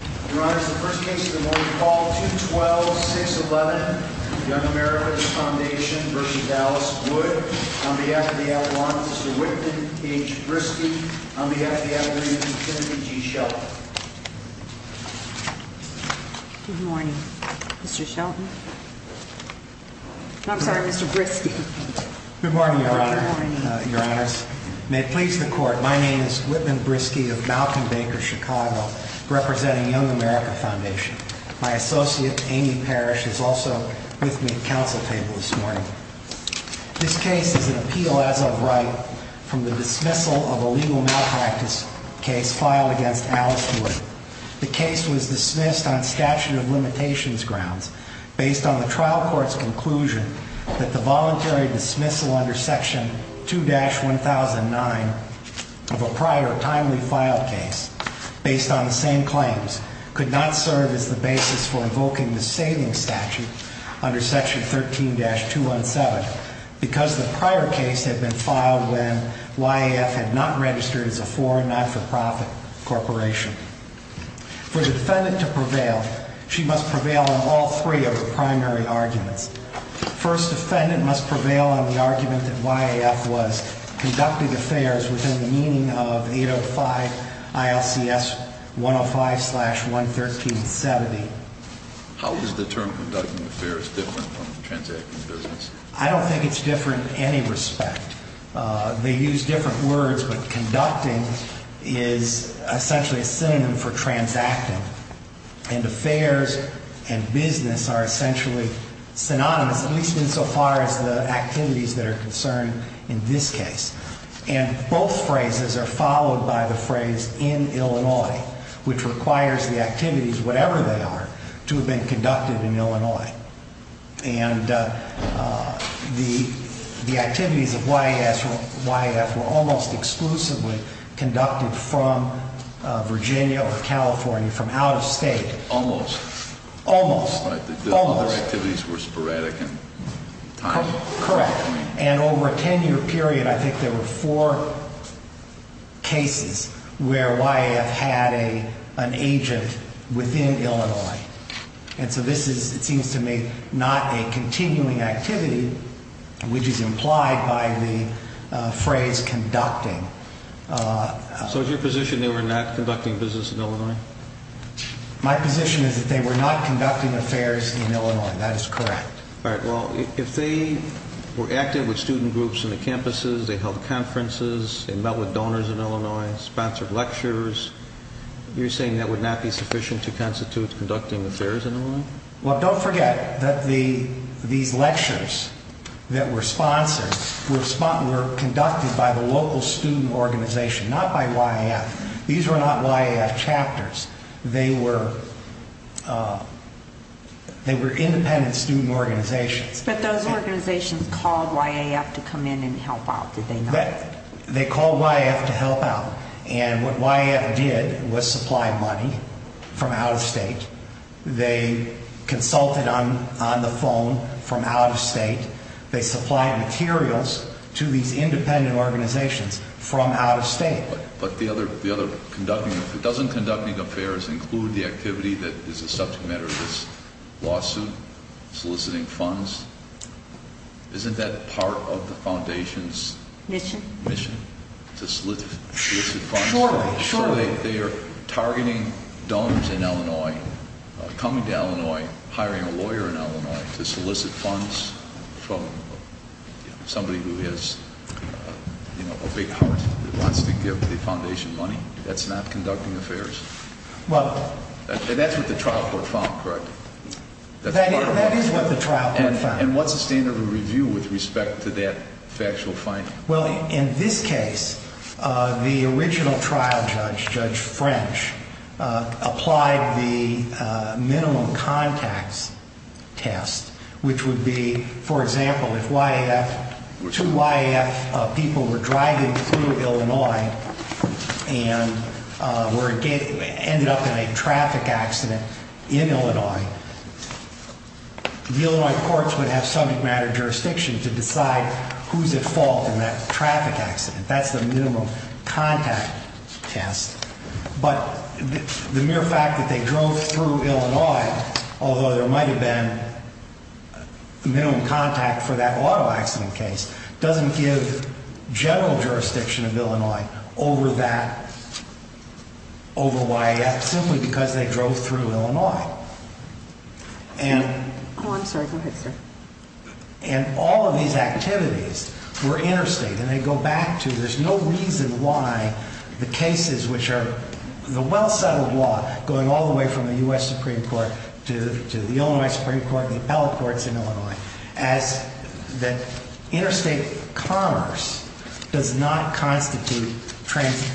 On behalf of the FDL-1, Mr. Whitman H. Briskey. On behalf of the FDL-3, Mr. Timothy G. Shelton. Good morning, Mr. Shelton. I'm sorry, Mr. Briskey. Good morning, Your Honor. Your Honors. May it please the Court, my name is Whitman Briskey of Malkin Baker, Chicago, representing Young America Foundation. My associate, Amy Parrish, is also with me at the council table this morning. This case is an appeal as of right from the dismissal of a legal malpractice case filed against Alice Wood. The case was dismissed on statute of limitations grounds, based on the trial court's conclusion that the voluntary dismissal under Section 2-1009 of a prior timely filed case, based on the same claims, could not serve as the basis for invoking the saving statute under Section 13-217, because the prior case had been filed when YAF had not registered as a foreign not-for-profit corporation. For the defendant to prevail, she must prevail on all three of the primary arguments. First, defendant must prevail on the argument that YAF was conducting affairs within the meaning of 805 ILCS 105-11370. How is the term conducting affairs different from transacting business? I don't think it's different in any respect. They use different words, but conducting is essentially a synonym for transacting. And affairs and business are essentially synonymous, at least insofar as the activities that are concerned in this case. And both phrases are followed by the phrase in Illinois, which requires the activities, whatever they are, to have been conducted in Illinois. And the activities of YAF were almost exclusively conducted from Virginia or California, from out of state. Almost. Almost. The other activities were sporadic in time. Correct. And over a 10-year period, I think there were four cases where YAF had an agent within Illinois. And so this is, it seems to me, not a continuing activity, which is implied by the phrase conducting. So is your position they were not conducting business in Illinois? My position is that they were not conducting affairs in Illinois. That is correct. All right. Well, if they were active with student groups in the campuses, they held conferences, they met with donors in Illinois, sponsored lectures, you're saying that would not be sufficient to constitute conducting affairs in Illinois? Well, don't forget that these lectures that were sponsored were conducted by the local student organization, not by YAF. These were not YAF chapters. They were independent student organizations. But those organizations called YAF to come in and help out, did they not? They called YAF to help out. And what YAF did was supply money from out-of-state. They consulted on the phone from out-of-state. They supplied materials to these independent organizations from out-of-state. But the other conducting, if it doesn't conducting affairs include the activity that is a subject matter of this lawsuit, soliciting funds, isn't that part of the foundation's mission to solicit funds? Sure. So they are targeting donors in Illinois, coming to Illinois, hiring a lawyer in Illinois to solicit funds from somebody who has a big heart that wants to give the foundation money? That's not conducting affairs? That's what the trial court found, correct? That is what the trial court found. And what's the standard of review with respect to that factual finding? Well, in this case, the original trial judge, Judge French, applied the minimum contacts test, which would be, for example, if two YAF people were driving through Illinois and ended up in a traffic accident in Illinois, the Illinois courts would have subject matter jurisdiction to decide who's at fault in that traffic accident. That's the minimum contact test. But the mere fact that they drove through Illinois, although there might have been minimum contact for that auto accident case, doesn't give general jurisdiction of Illinois over that, over YAF, simply because they drove through Illinois. Oh, I'm sorry. Go ahead, sir. And all of these activities were interstate, and they go back to there's no reason why the cases which are the well-settled law, going all the way from the U.S. Supreme Court to the Illinois Supreme Court and the appellate courts in Illinois, as the interstate commerce does not constitute transacting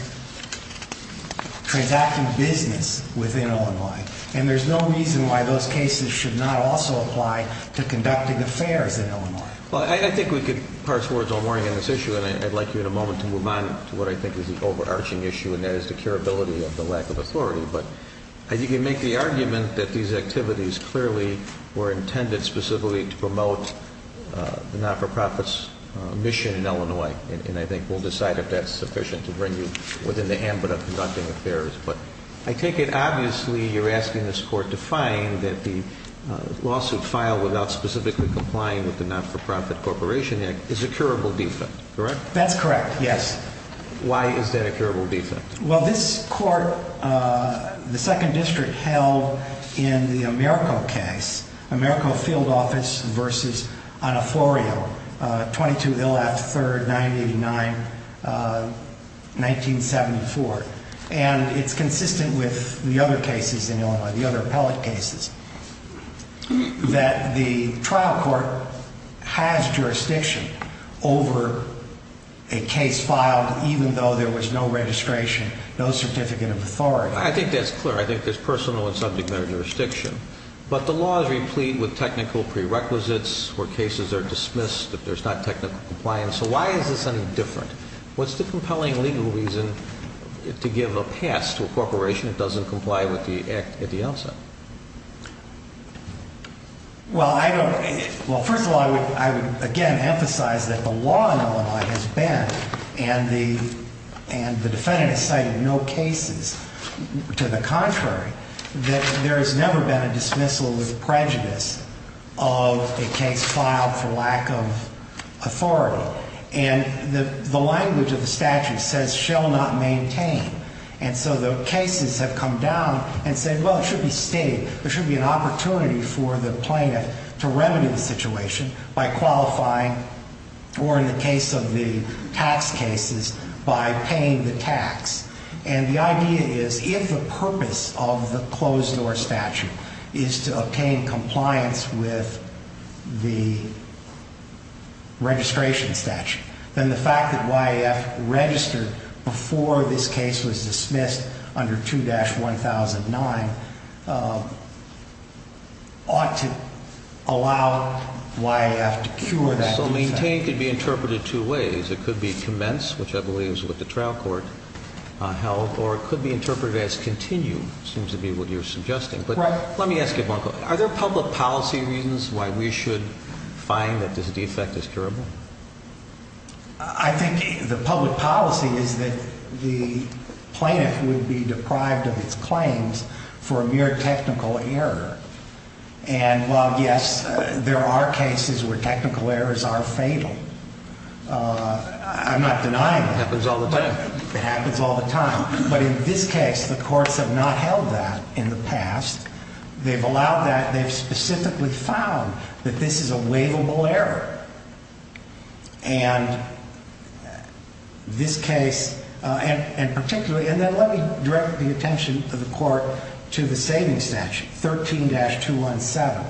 business within Illinois. And there's no reason why those cases should not also apply to conducting affairs in Illinois. Well, I think we could parse words all morning on this issue, and I'd like you in a moment to move on to what I think is the overarching issue, and that is the curability of the lack of authority. But I think you make the argument that these activities clearly were intended specifically to promote the not-for-profits mission in Illinois. And I think we'll decide if that's sufficient to bring you within the ambit of conducting affairs. But I take it, obviously, you're asking this Court to find that the lawsuit filed without specifically complying with the Not-for-Profit Corporation Act is a curable defect, correct? That's correct, yes. Why is that a curable defect? Well, this Court, the Second District, held in the Americo case, Americo Field Office v. Oniforio, 22 Ill. F. 3rd, 989, 1974. And it's consistent with the other cases in Illinois, the other appellate cases, that the trial court has jurisdiction over a case filed even though there was no registration, no certificate of authority. I think that's clear. I think there's personal and subject matter jurisdiction. But the law is replete with technical prerequisites where cases are dismissed if there's not technical compliance. So why is this any different? What's the compelling legal reason to give a pass to a corporation that doesn't comply with the Act at the outset? Well, first of all, I would, again, emphasize that the law in Illinois has been, and the defendant has cited no cases to the contrary, that there has never been a dismissal with prejudice of a case filed for lack of authority. And the language of the statute says, shall not maintain. And so the cases have come down and said, well, it should be stayed. There should be an opportunity for the plaintiff to remedy the situation by qualifying, or in the case of the tax cases, by paying the tax. And the idea is, if the purpose of the closed-door statute is to obtain compliance with the registration statute, then the fact that YAF registered before this case was dismissed under 2-1009 ought to allow YAF to cure that defendant. So maintain could be interpreted two ways. It could be commenced, which I believe is what the trial court held, or it could be interpreted as continued, seems to be what you're suggesting. Right. But let me ask you one question. Are there public policy reasons why we should find that this defect is curable? I think the public policy is that the plaintiff would be deprived of its claims for a mere technical error. And while, yes, there are cases where technical errors are fatal, I'm not denying that. It happens all the time. It happens all the time. But in this case, the courts have not held that in the past. They've allowed that. They've specifically found that this is a waivable error. And this case, and particularly, and then let me direct the attention of the court to the saving statute, 13-217.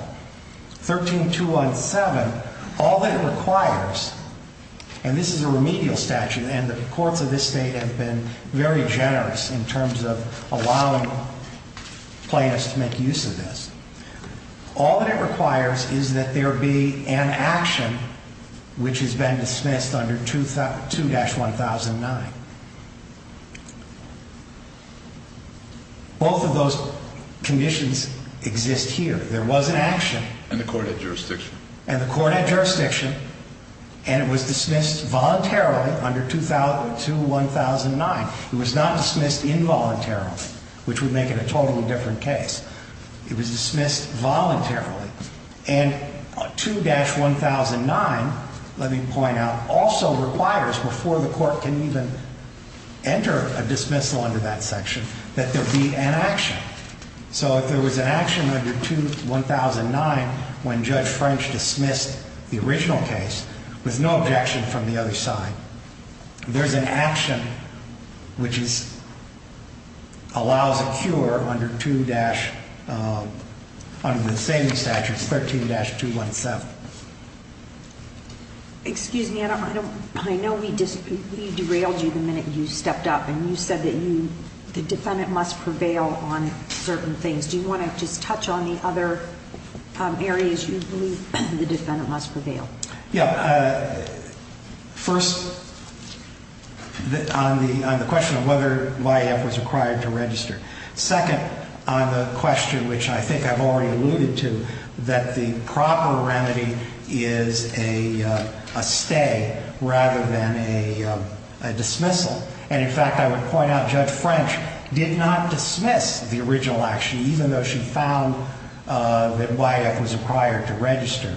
13-217, all that it requires, and this is a remedial statute, and the courts of this state have been very generous in terms of allowing plaintiffs to make use of this. All that it requires is that there be an action which has been dismissed under 2-1009. Both of those conditions exist here. There was an action. And the cornet jurisdiction. And the cornet jurisdiction. And it was dismissed voluntarily under 2-1009. It was not dismissed involuntarily, which would make it a totally different case. It was dismissed voluntarily. And 2-1009, let me point out, also requires, before the court can even enter a dismissal under that section, that there be an action. So if there was an action under 2-1009 when Judge French dismissed the original case, with no objection from the other side, there's an action which allows a cure under the same statute, 13-217. Excuse me. I know we derailed you the minute you stepped up, and you said that the defendant must prevail on certain things. Do you want to just touch on the other areas you believe the defendant must prevail? Yeah. First, on the question of whether YF was required to register. Second, on the question, which I think I've already alluded to, that the proper remedy is a stay rather than a dismissal. And, in fact, I would point out Judge French did not dismiss the original action, even though she found that YF was required to register.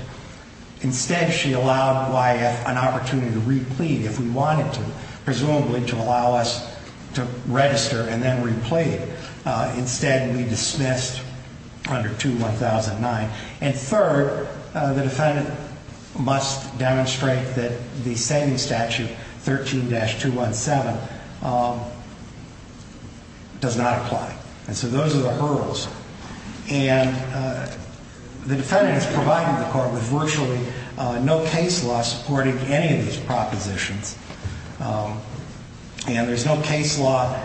Instead, she allowed YF an opportunity to re-plead if we wanted to, presumably to allow us to register and then re-plead. Instead, we dismissed under 2-1009. And third, the defendant must demonstrate that the same statute, 13-217, does not apply. And so those are the hurdles. And the defendant has provided the court with virtually no case law supporting any of these propositions. And there's no case law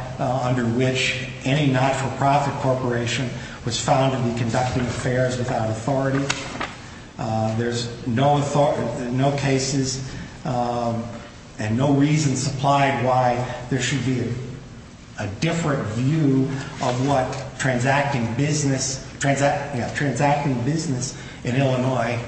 under which any not-for-profit corporation was found to be conducting affairs without authority. There's no cases and no reasons applied why there should be a different view of what transacting business in Illinois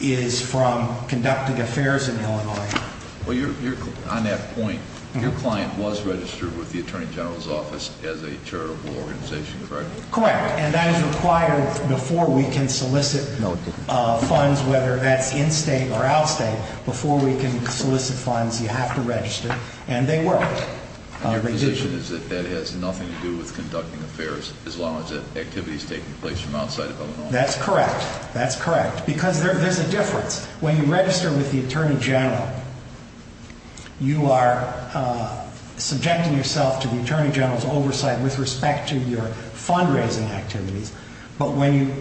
is from conducting affairs in Illinois. Well, on that point, your client was registered with the Attorney General's Office as a charitable organization, correct? Correct. And that is required before we can solicit funds, whether that's in-state or out-state. Before we can solicit funds, you have to register. And they worked. And your position is that that has nothing to do with conducting affairs as long as that activity is taking place from outside of Illinois? That's correct. That's correct. Because there's a difference. When you register with the Attorney General, you are subjecting yourself to the Attorney General's oversight with respect to your fundraising activities. But when you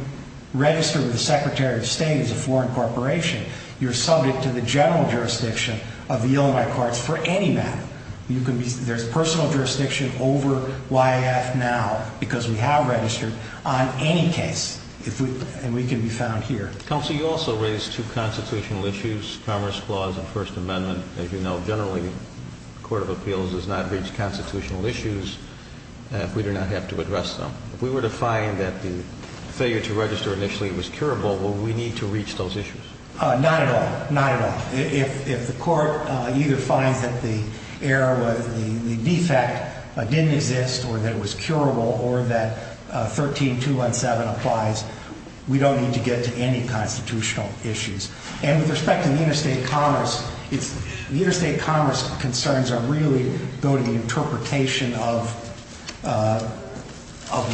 register with the Secretary of State as a foreign corporation, you're subject to the general jurisdiction of the Illinois Courts for any matter. There's personal jurisdiction over YAF now because we have registered on any case. And we can be found here. Counsel, you also raised two constitutional issues, Commerce Clause and First Amendment. As you know, generally, the Court of Appeals does not reach constitutional issues if we do not have to address them. If we were to find that the failure to register initially was curable, will we need to reach those issues? Not at all. Not at all. If the Court either finds that the defect didn't exist or that it was curable or that 13-217 applies, we don't need to get to any constitutional issues. And with respect to the interstate commerce, the interstate commerce concerns really go to the interpretation of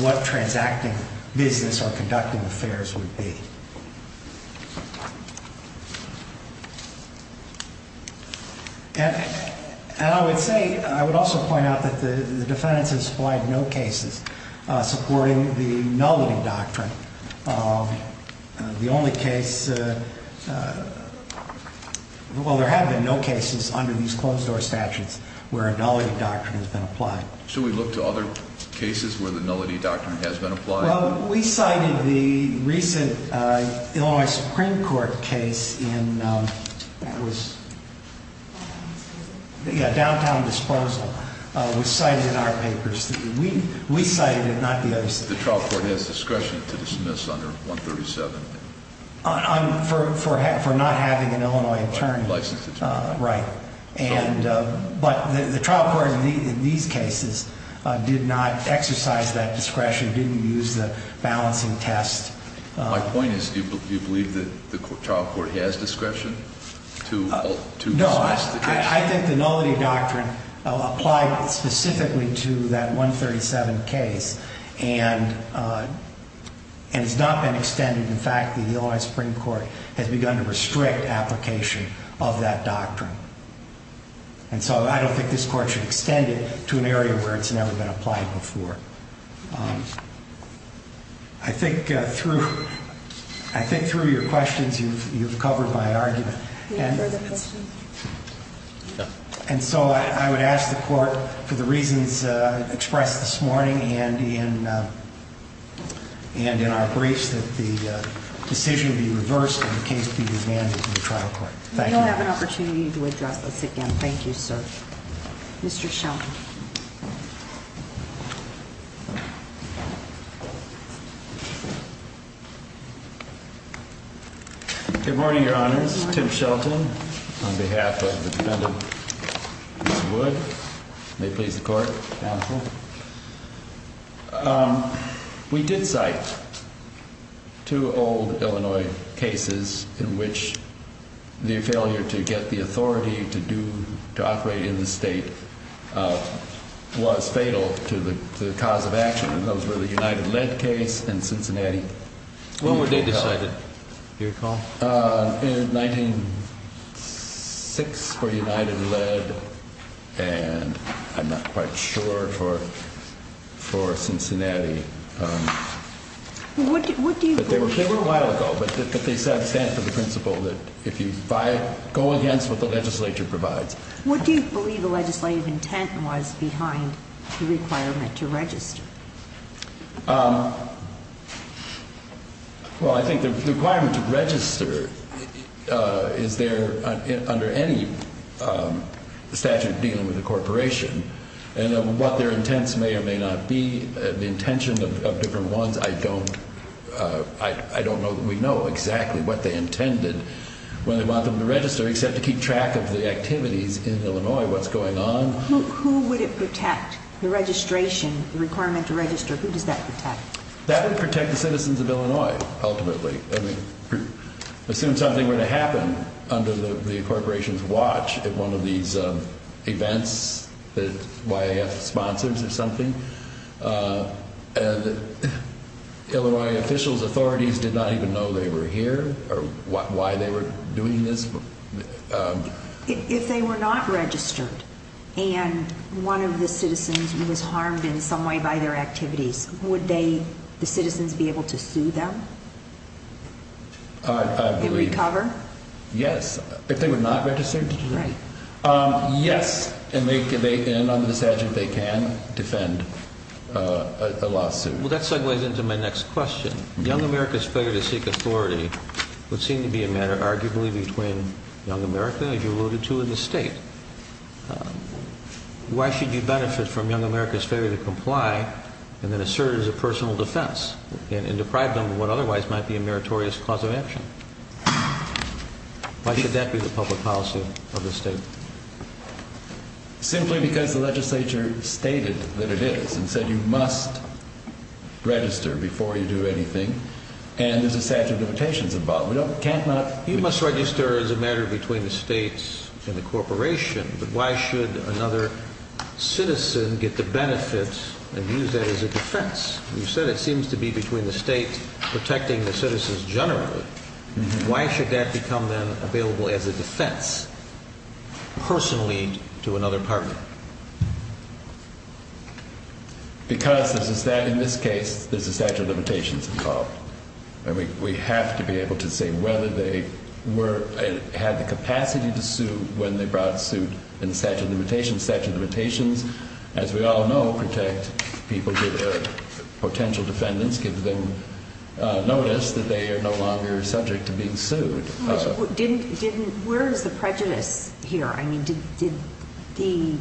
what transacting business or conducting affairs would be. And I would say, I would also point out that the defendants have supplied no cases supporting the Nullity Doctrine. The only case, well, there have been no cases under these closed-door statutes where a Nullity Doctrine has been applied. Should we look to other cases where the Nullity Doctrine has been applied? Well, we cited the recent Illinois Supreme Court case in, that was, yeah, Downtown Disclosal, was cited in our papers. We cited it, not the others. The trial court has discretion to dismiss under 137. For not having an Illinois attorney. Licensed attorney. Right. But the trial court in these cases did not exercise that discretion, didn't use the balancing test. My point is, do you believe that the trial court has discretion to dismiss the case? And so I don't think this court should extend it to an area where it's never been applied before. I think through your questions, you've covered my argument. Any further questions? And so I would ask the court for the reasons expressed this morning and in our briefs that the decision be reversed and the case be demanded in the trial court. Thank you. We'll have an opportunity to address this again. Thank you, sir. Mr. Shelton. Good morning, Your Honors. This is Tim Shelton on behalf of the defendant, Mr. Wood. May it please the court. Counsel. We did cite two old Illinois cases in which the failure to get the authority to do, to operate in the state was fatal to the cause of action. And those were the United Lead case and Cincinnati. When were they decided? Do you recall? In 1906 for United Lead and I'm not quite sure for Cincinnati. They were a while ago, but they stand for the principle that if you go against what the legislature provides. What do you believe the legislative intent was behind the requirement to register? Well, I think the requirement to register is there under any statute dealing with a corporation. And what their intents may or may not be, the intention of different ones, I don't know. We know exactly what they intended when they want them to register, except to keep track of the activities in Illinois, what's going on. Who would it protect? The registration, the requirement to register, who does that protect? That would protect the citizens of Illinois, ultimately. As soon as something were to happen under the corporation's watch at one of these events that YAF sponsors or something, Illinois officials, authorities did not even know they were here or why they were doing this. If they were not registered and one of the citizens was harmed in some way by their activities, would they, the citizens, be able to sue them? I believe. To recover? Yes. If they were not registered? Right. Yes. And under this statute they can defend a lawsuit. Well, that segues into my next question. Young America's failure to seek authority would seem to be a matter arguably between Young America, as you alluded to, and the state. Why should you benefit from Young America's failure to comply and then assert it as a personal defense and deprive them of what otherwise might be a meritorious cause of action? Why should that be the public policy of the state? Simply because the legislature stated that it is and said you must register before you do anything. And there's a statute of limitations involved. We can't not register. You must register as a matter between the state and the corporation. But why should another citizen get the benefits and use that as a defense? You said it seems to be between the state protecting the citizens generally. Why should that become then available as a defense? Personally to another partner? Because in this case there's a statute of limitations involved. And we have to be able to say whether they had the capacity to sue when they brought suit in the statute of limitations. Statute of limitations, as we all know, protect people, potential defendants, give them notice that they are no longer subject to being sued. Where is the prejudice here? The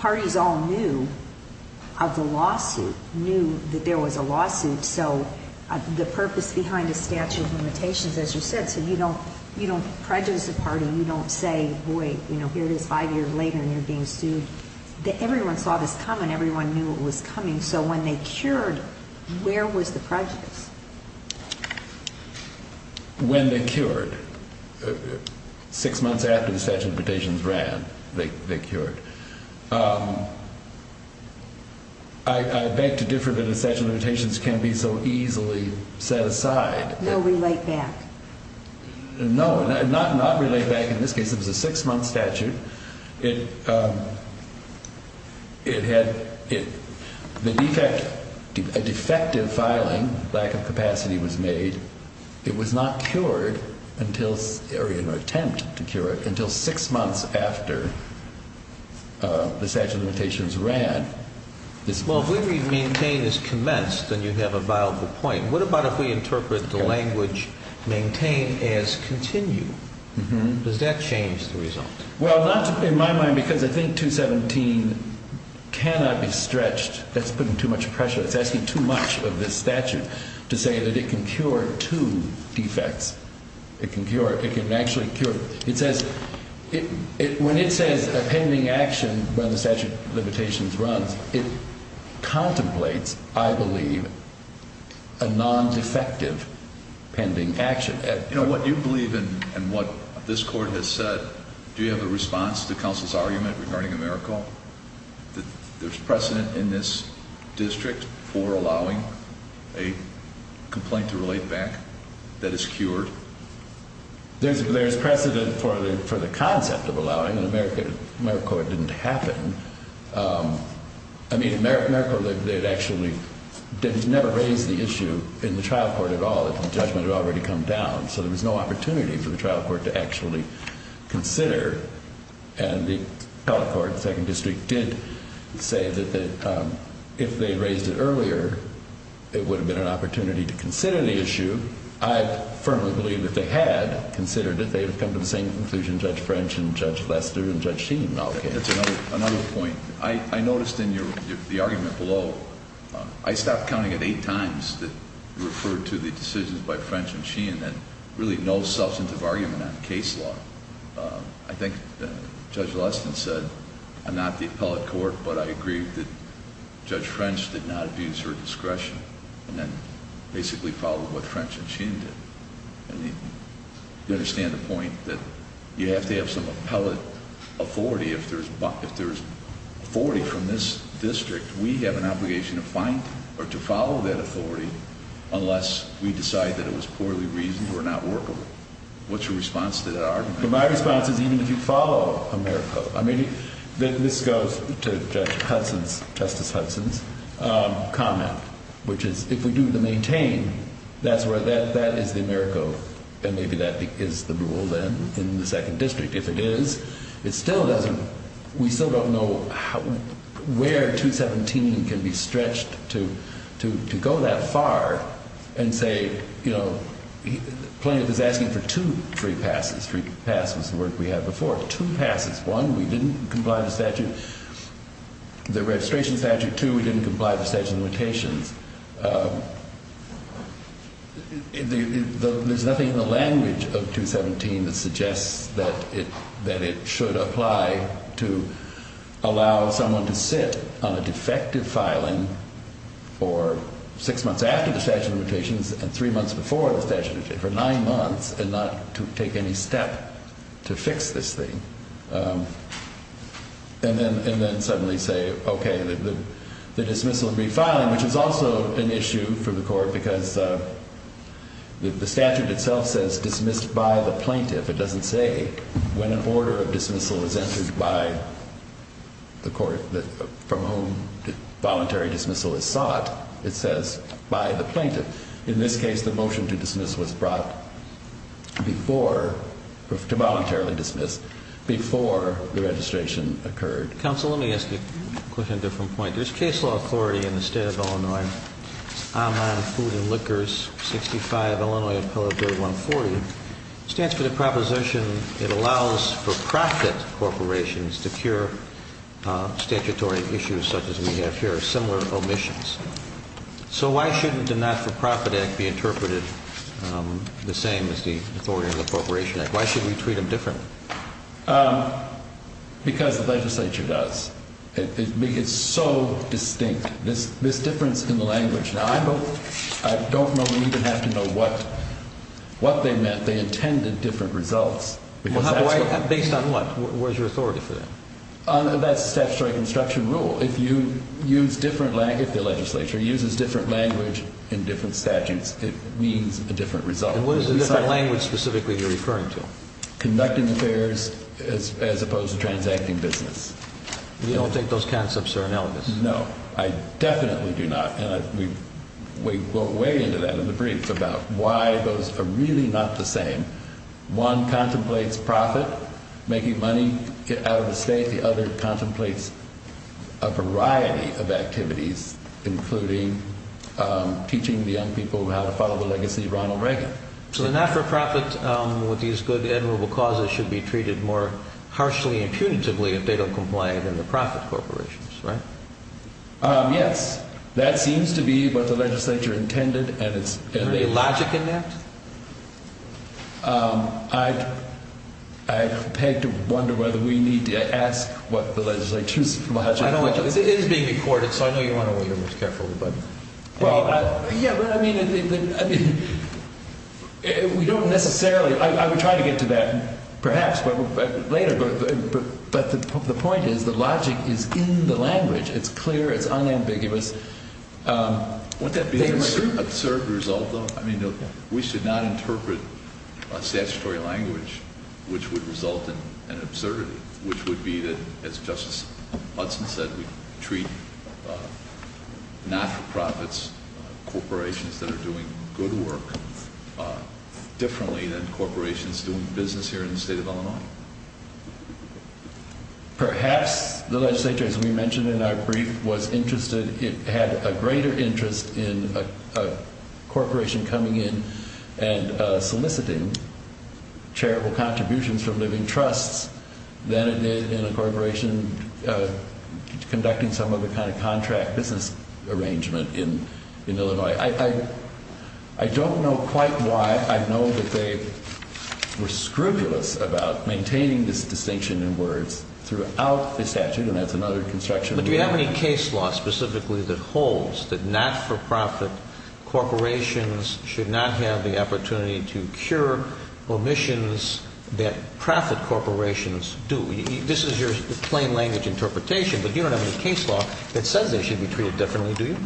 parties all knew of the lawsuit, knew that there was a lawsuit. So the purpose behind the statute of limitations, as you said, so you don't prejudice the party. You don't say, boy, here it is five years later and you're being sued. Everyone saw this coming. Everyone knew it was coming. So when they cured, where was the prejudice? When they cured. Six months after the statute of limitations ran, they cured. I beg to differ that a statute of limitations can be so easily set aside. No, relate back. No, not relate back. In this case it was a six-month statute. It had a defective filing. Lack of capacity was made. It was not cured until six months after the statute of limitations ran. Well, if we read maintain as commenced, then you have a viable point. What about if we interpret the language maintain as continue? Does that change the result? Well, not in my mind because I think 217 cannot be stretched. That's putting too much pressure. It's asking too much of this statute to say that it can cure two defects. It can actually cure. When it says a pending action when the statute of limitations runs, it contemplates, I believe, a non-defective pending action. You know, what you believe in and what this court has said, do you have a response to counsel's argument regarding AmeriCorps? There's precedent in this district for allowing a complaint to relate back that is cured? There's precedent for the concept of allowing, and AmeriCorps it didn't happen. I mean, AmeriCorps, they had actually never raised the issue in the trial court at all. The judgment had already come down, so there was no opportunity for the trial court to actually consider. And the appellate court, the second district, did say that if they raised it earlier, it would have been an opportunity to consider the issue. I firmly believe that they had considered it. They had come to the same conclusion Judge French and Judge Lester and Judge Sheen all came to. That's another point. I noticed in the argument below, I stopped counting it eight times that you referred to the decisions by French and Sheen that really no substantive argument on case law. I think Judge Lester said, I'm not the appellate court, but I agree that Judge French did not abuse her discretion and then basically followed what French and Sheen did. You understand the point that you have to have some appellate authority. If there's authority from this district, we have an obligation to find or to follow that authority unless we decide that it was poorly reasoned or not workable. What's your response to that argument? My response is even if you follow AmeriCorps. This goes to Justice Hudson's comment, which is if we do the maintain, that is the AmeriCorps and maybe that is the rule then in the second district. If it is, we still don't know where 217 can be stretched to go that far and say plaintiff is asking for two free passes. Free pass was the word we had before. Two passes. One, we didn't comply with the statute. The registration statute too, we didn't comply with the statute of limitations. There's nothing in the language of 217 that suggests that it should apply to allow someone to sit on a defective filing for six months after the statute of limitations and three months before the statute of limitations, and not to take any step to fix this thing. And then suddenly say, okay, the dismissal of refiling, which is also an issue for the court because the statute itself says dismissed by the plaintiff. It doesn't say when an order of dismissal is entered by the court from whom voluntary dismissal is sought. It says by the plaintiff. In this case, the motion to dismiss was brought before, to voluntarily dismiss, before the registration occurred. Counsel, let me ask you a different point. There's case law authority in the state of Illinois, online food and liquors, 65 Illinois appellate bird 140. It stands for the proposition it allows for profit corporations to cure statutory issues such as we have here, similar omissions. So why shouldn't the not-for-profit act be interpreted the same as the authority of the Corporation Act? Why should we treat them differently? Because the legislature does. It's so distinct, this difference in the language. Now, I don't even have to know what they meant. They intended different results. Based on what? Where's your authority for that? That's the statutory construction rule. If the legislature uses different language in different statutes, it means a different result. And what is the different language specifically you're referring to? Conducting affairs as opposed to transacting business. We don't take those concepts, sir, analogously. No, I definitely do not. And we go way into that in the brief about why those are really not the same. One contemplates profit, making money out of the state. The other contemplates a variety of activities, including teaching the young people how to follow the legacy of Ronald Reagan. So the not-for-profit with these good, admirable causes should be treated more harshly and punitively if they don't comply than the profit corporations, right? Yes. That seems to be what the legislature intended. Is there logic in that? I beg to wonder whether we need to ask what the legislature's logic is. It is being recorded, so I know you want to be careful. I would try to get to that perhaps later, but the point is the logic is in the language. It's clear. It's unambiguous. Would that be an absurd result, though? We should not interpret a statutory language which would result in an absurdity, which would be that, as Justice Hudson said, we treat not-for-profits, corporations that are doing good work, differently than corporations doing business here in the state of Illinois. Perhaps the legislature, as we mentioned in our brief, had a greater interest in a corporation coming in and soliciting charitable contributions from living trusts than it did in a corporation conducting some of the kind of contract business arrangement in Illinois. I don't know quite why. I know that they were scrupulous about maintaining this distinction in words throughout the statute, and that's another construction. But do you have any case law specifically that holds that not-for-profit corporations should not have the opportunity to cure omissions that profit corporations do? This is your plain language interpretation, but you don't have any case law that says they should be treated differently, do you?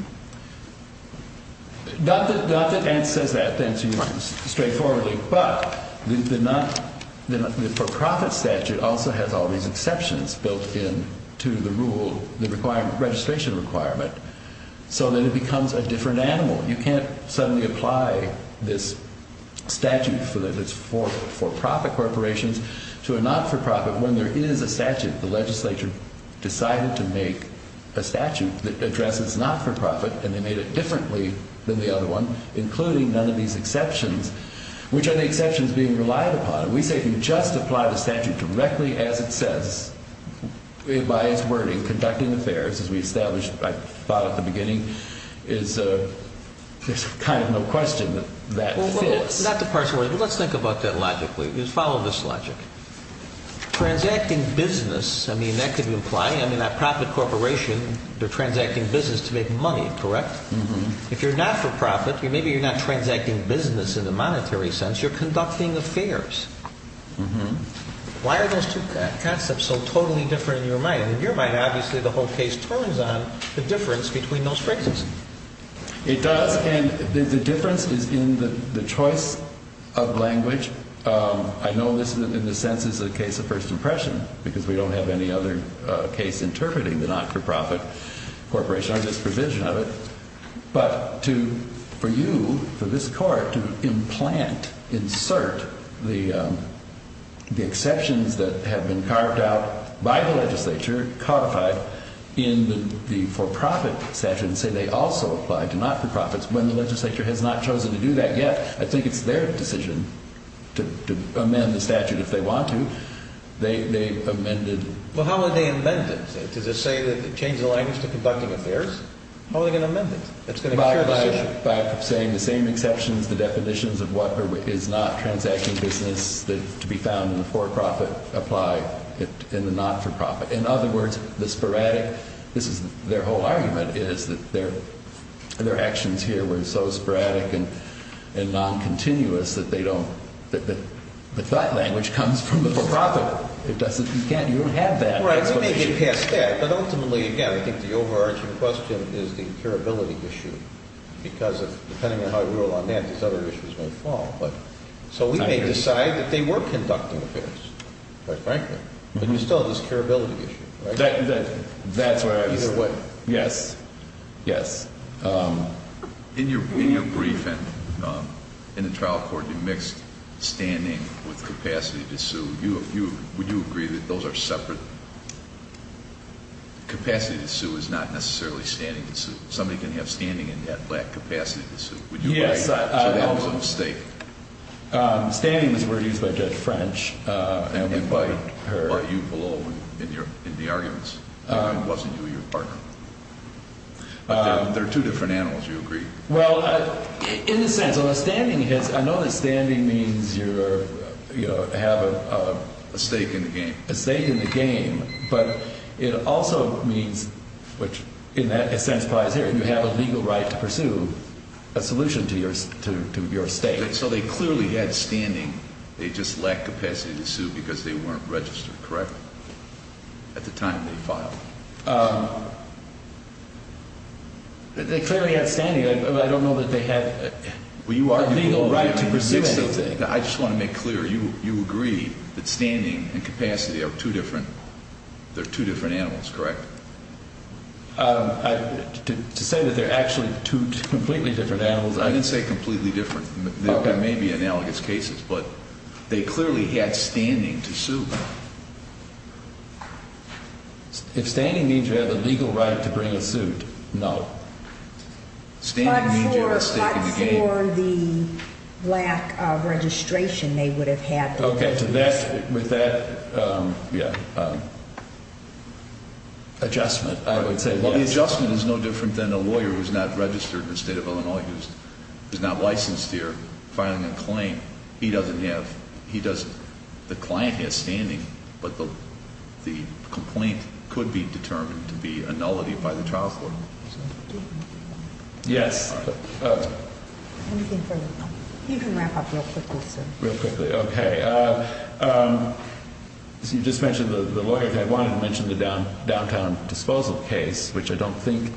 Not that it says that, to answer your question straightforwardly, but the for-profit statute also has all these exceptions built into the rule, the registration requirement, so that it becomes a different animal. You can't suddenly apply this statute for profit corporations to a not-for-profit when there is a statute. The legislature decided to make a statute that addresses not-for-profit, and they made it differently than the other one, including none of these exceptions, which are the exceptions being relied upon. We say if you just apply the statute directly as it says, by its wording, conducting affairs as we established, I thought, at the beginning, there's kind of no question that that fits. Not to parse words, but let's think about that logically. Just follow this logic. Transacting business, I mean, that could imply, I mean, a profit corporation, they're transacting business to make money, correct? If you're not-for-profit, maybe you're not transacting business in the monetary sense, you're conducting affairs. Why are those two concepts so totally different in your mind? In your mind, obviously, the whole case turns on the difference between those phrases. It does, and the difference is in the choice of language. I know this, in a sense, is a case of first impression, because we don't have any other case interpreting the not-for-profit corporation or this provision of it, but for you, for this court, to implant, insert the exceptions that have been carved out by the legislature, codified in the for-profit statute, and say they also apply to not-for-profits when the legislature has not chosen to do that yet, I think it's their decision to amend the statute if they want to. They amended- Well, how would they amend it? Does it say that it changes the language to conducting affairs? How are they going to amend it? By saying the same exceptions, the definitions of what is not transacting business to be found in the for-profit apply in the not-for-profit. In other words, the sporadic, this is their whole argument, is that their actions here were so sporadic and non-continuous that they don't, that the thought language comes from the for-profit. It doesn't, you can't, you don't have that. Right, you may get past that, but ultimately, again, I think the overarching question is the curability issue, because depending on how you roll on that, these other issues may fall. So we may decide that they were conducting affairs, quite frankly, but you still have this curability issue, right? That's right. Either way. Yes. Yes. In your briefing, in the trial court, you mixed standing with capacity to sue. Would you agree that those are separate? Capacity to sue is not necessarily standing to sue. Somebody can have standing and not have capacity to sue. Yes. So that was a mistake. Standing was a word used by Judge French. And by you below in the arguments. It wasn't you or your partner. But they're two different animals. Do you agree? Well, in a sense, standing has, I know that standing means you're, you know, have a stake in the game. A stake in the game, but it also means, which in that sense applies here, you have a legal right to pursue a solution to your stake. So they clearly had standing. They just lacked capacity to sue because they weren't registered, correct? At the time they filed. They clearly had standing. I don't know that they had a legal right to pursue anything. I just want to make clear, you agree that standing and capacity are two different animals, correct? To say that they're actually two completely different animals, I didn't say completely different. They may be analogous cases, but they clearly had standing to sue. If standing means you have a legal right to bring a suit, no. Standing means you have a stake in the game. But for the lack of registration they would have had to pursue a suit. Okay. With that adjustment, I would say. Well, the adjustment is no different than a lawyer who's not registered in the state of Illinois, who's not licensed here filing a claim. He doesn't have, he doesn't, the client has standing, but the complaint could be determined to be a nullity by the trial court. Anything further? You can wrap up real quickly, sir. Real quickly. Okay. You just mentioned the lawyer. I wanted to mention the downtown disposal case, which I don't think,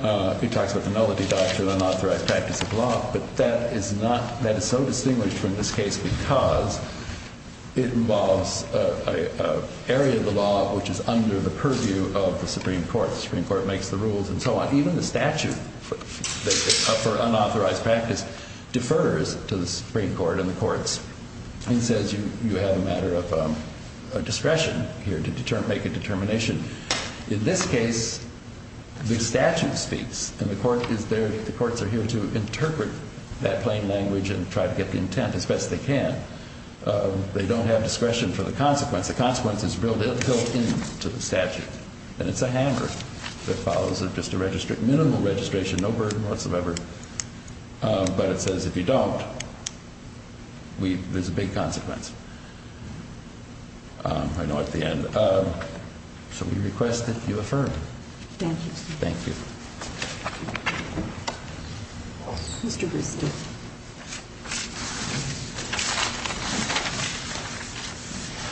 it talks about the nullity doctrine, unauthorized practice of law, but that is not, that is so distinguished from this case because it involves an area of the law which is under the purview of the Supreme Court. The Supreme Court makes the rules and so on. Even the statute for unauthorized practice defers to the Supreme Court and the courts and says you have a matter of discretion here to make a determination. In this case, the statute speaks and the courts are here to interpret that plain language and try to get the intent as best they can. They don't have discretion for the consequence. The consequence is built into the statute. And it's a hammer that follows just a minimal registration, no burden whatsoever. But it says if you don't, there's a big consequence. I know at the end. So we request that you affirm. Thank you. Thank you.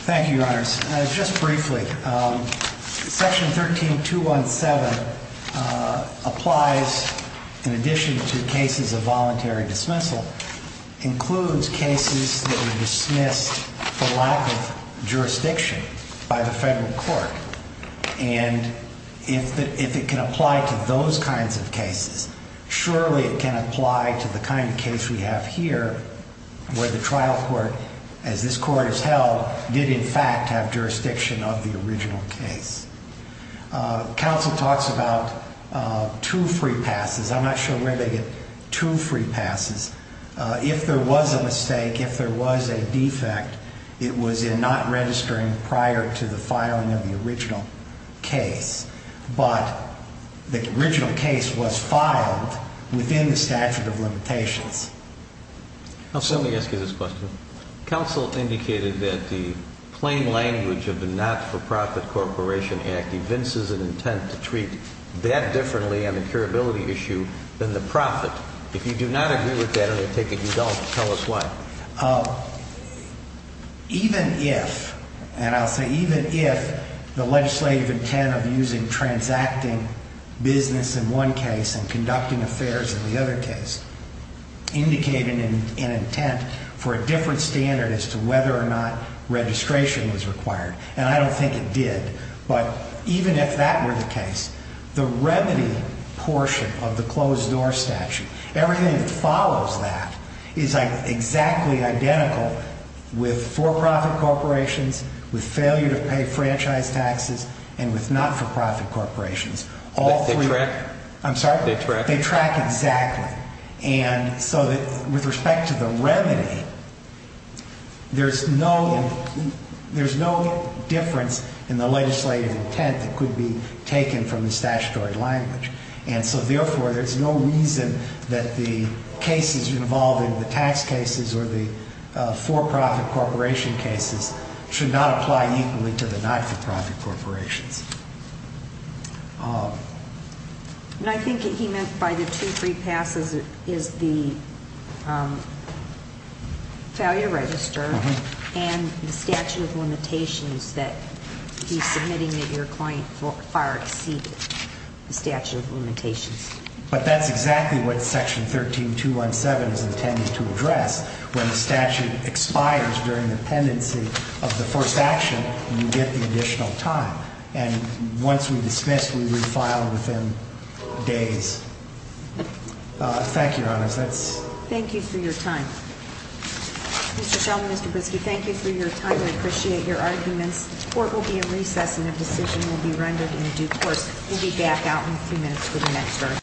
Thank you, Your Honors. Just briefly, Section 13217 applies in addition to cases of voluntary dismissal, includes cases that were dismissed for lack of jurisdiction by the federal court. And if it can apply to those kinds of cases, surely it can apply to the kind of case we have here where the trial court, as this Court has held, did in fact have jurisdiction of the original case. Counsel talks about two free passes. I'm not sure where they get two free passes. If there was a mistake, if there was a defect, it was in not registering prior to the filing of the original case. Let me ask you this question. Counsel indicated that the plain language of the Not-for-Profit Corporation Act evinces an intent to treat that differently on the curability issue than the profit. If you do not agree with that and you take a result, tell us why. Even if, and I'll say even if, the legislative intent of using transacting business in one case and conducting affairs in the other case, indicating an intent for a different standard as to whether or not registration was required, and I don't think it did, but even if that were the case, the remedy portion of the closed-door statute, everything that follows that, is exactly identical with for-profit corporations, with failure-to-pay franchise taxes, and with not-for-profit corporations. They track? I'm sorry? They track? They track exactly. And so with respect to the remedy, there's no difference in the legislative intent that could be taken from the statutory language. And so therefore, there's no reason that the cases involving the tax cases or the for-profit corporation cases should not apply equally to the not-for-profit corporations. And I think what he meant by the two free passes is the failure to register and the statute of limitations that he's submitting that your client far exceeded the statute of limitations. But that's exactly what Section 13217 is intended to address. When the statute expires during the pendency of the first action, you get the additional time. And once we dismiss, we refile within days. Thank you, Your Honor. Thank you for your time. Mr. Shulman, Mr. Brisky, thank you for your time. I appreciate your arguments. The court will be in recess, and a decision will be rendered in due course. We'll be back out in a few minutes for the next hearing.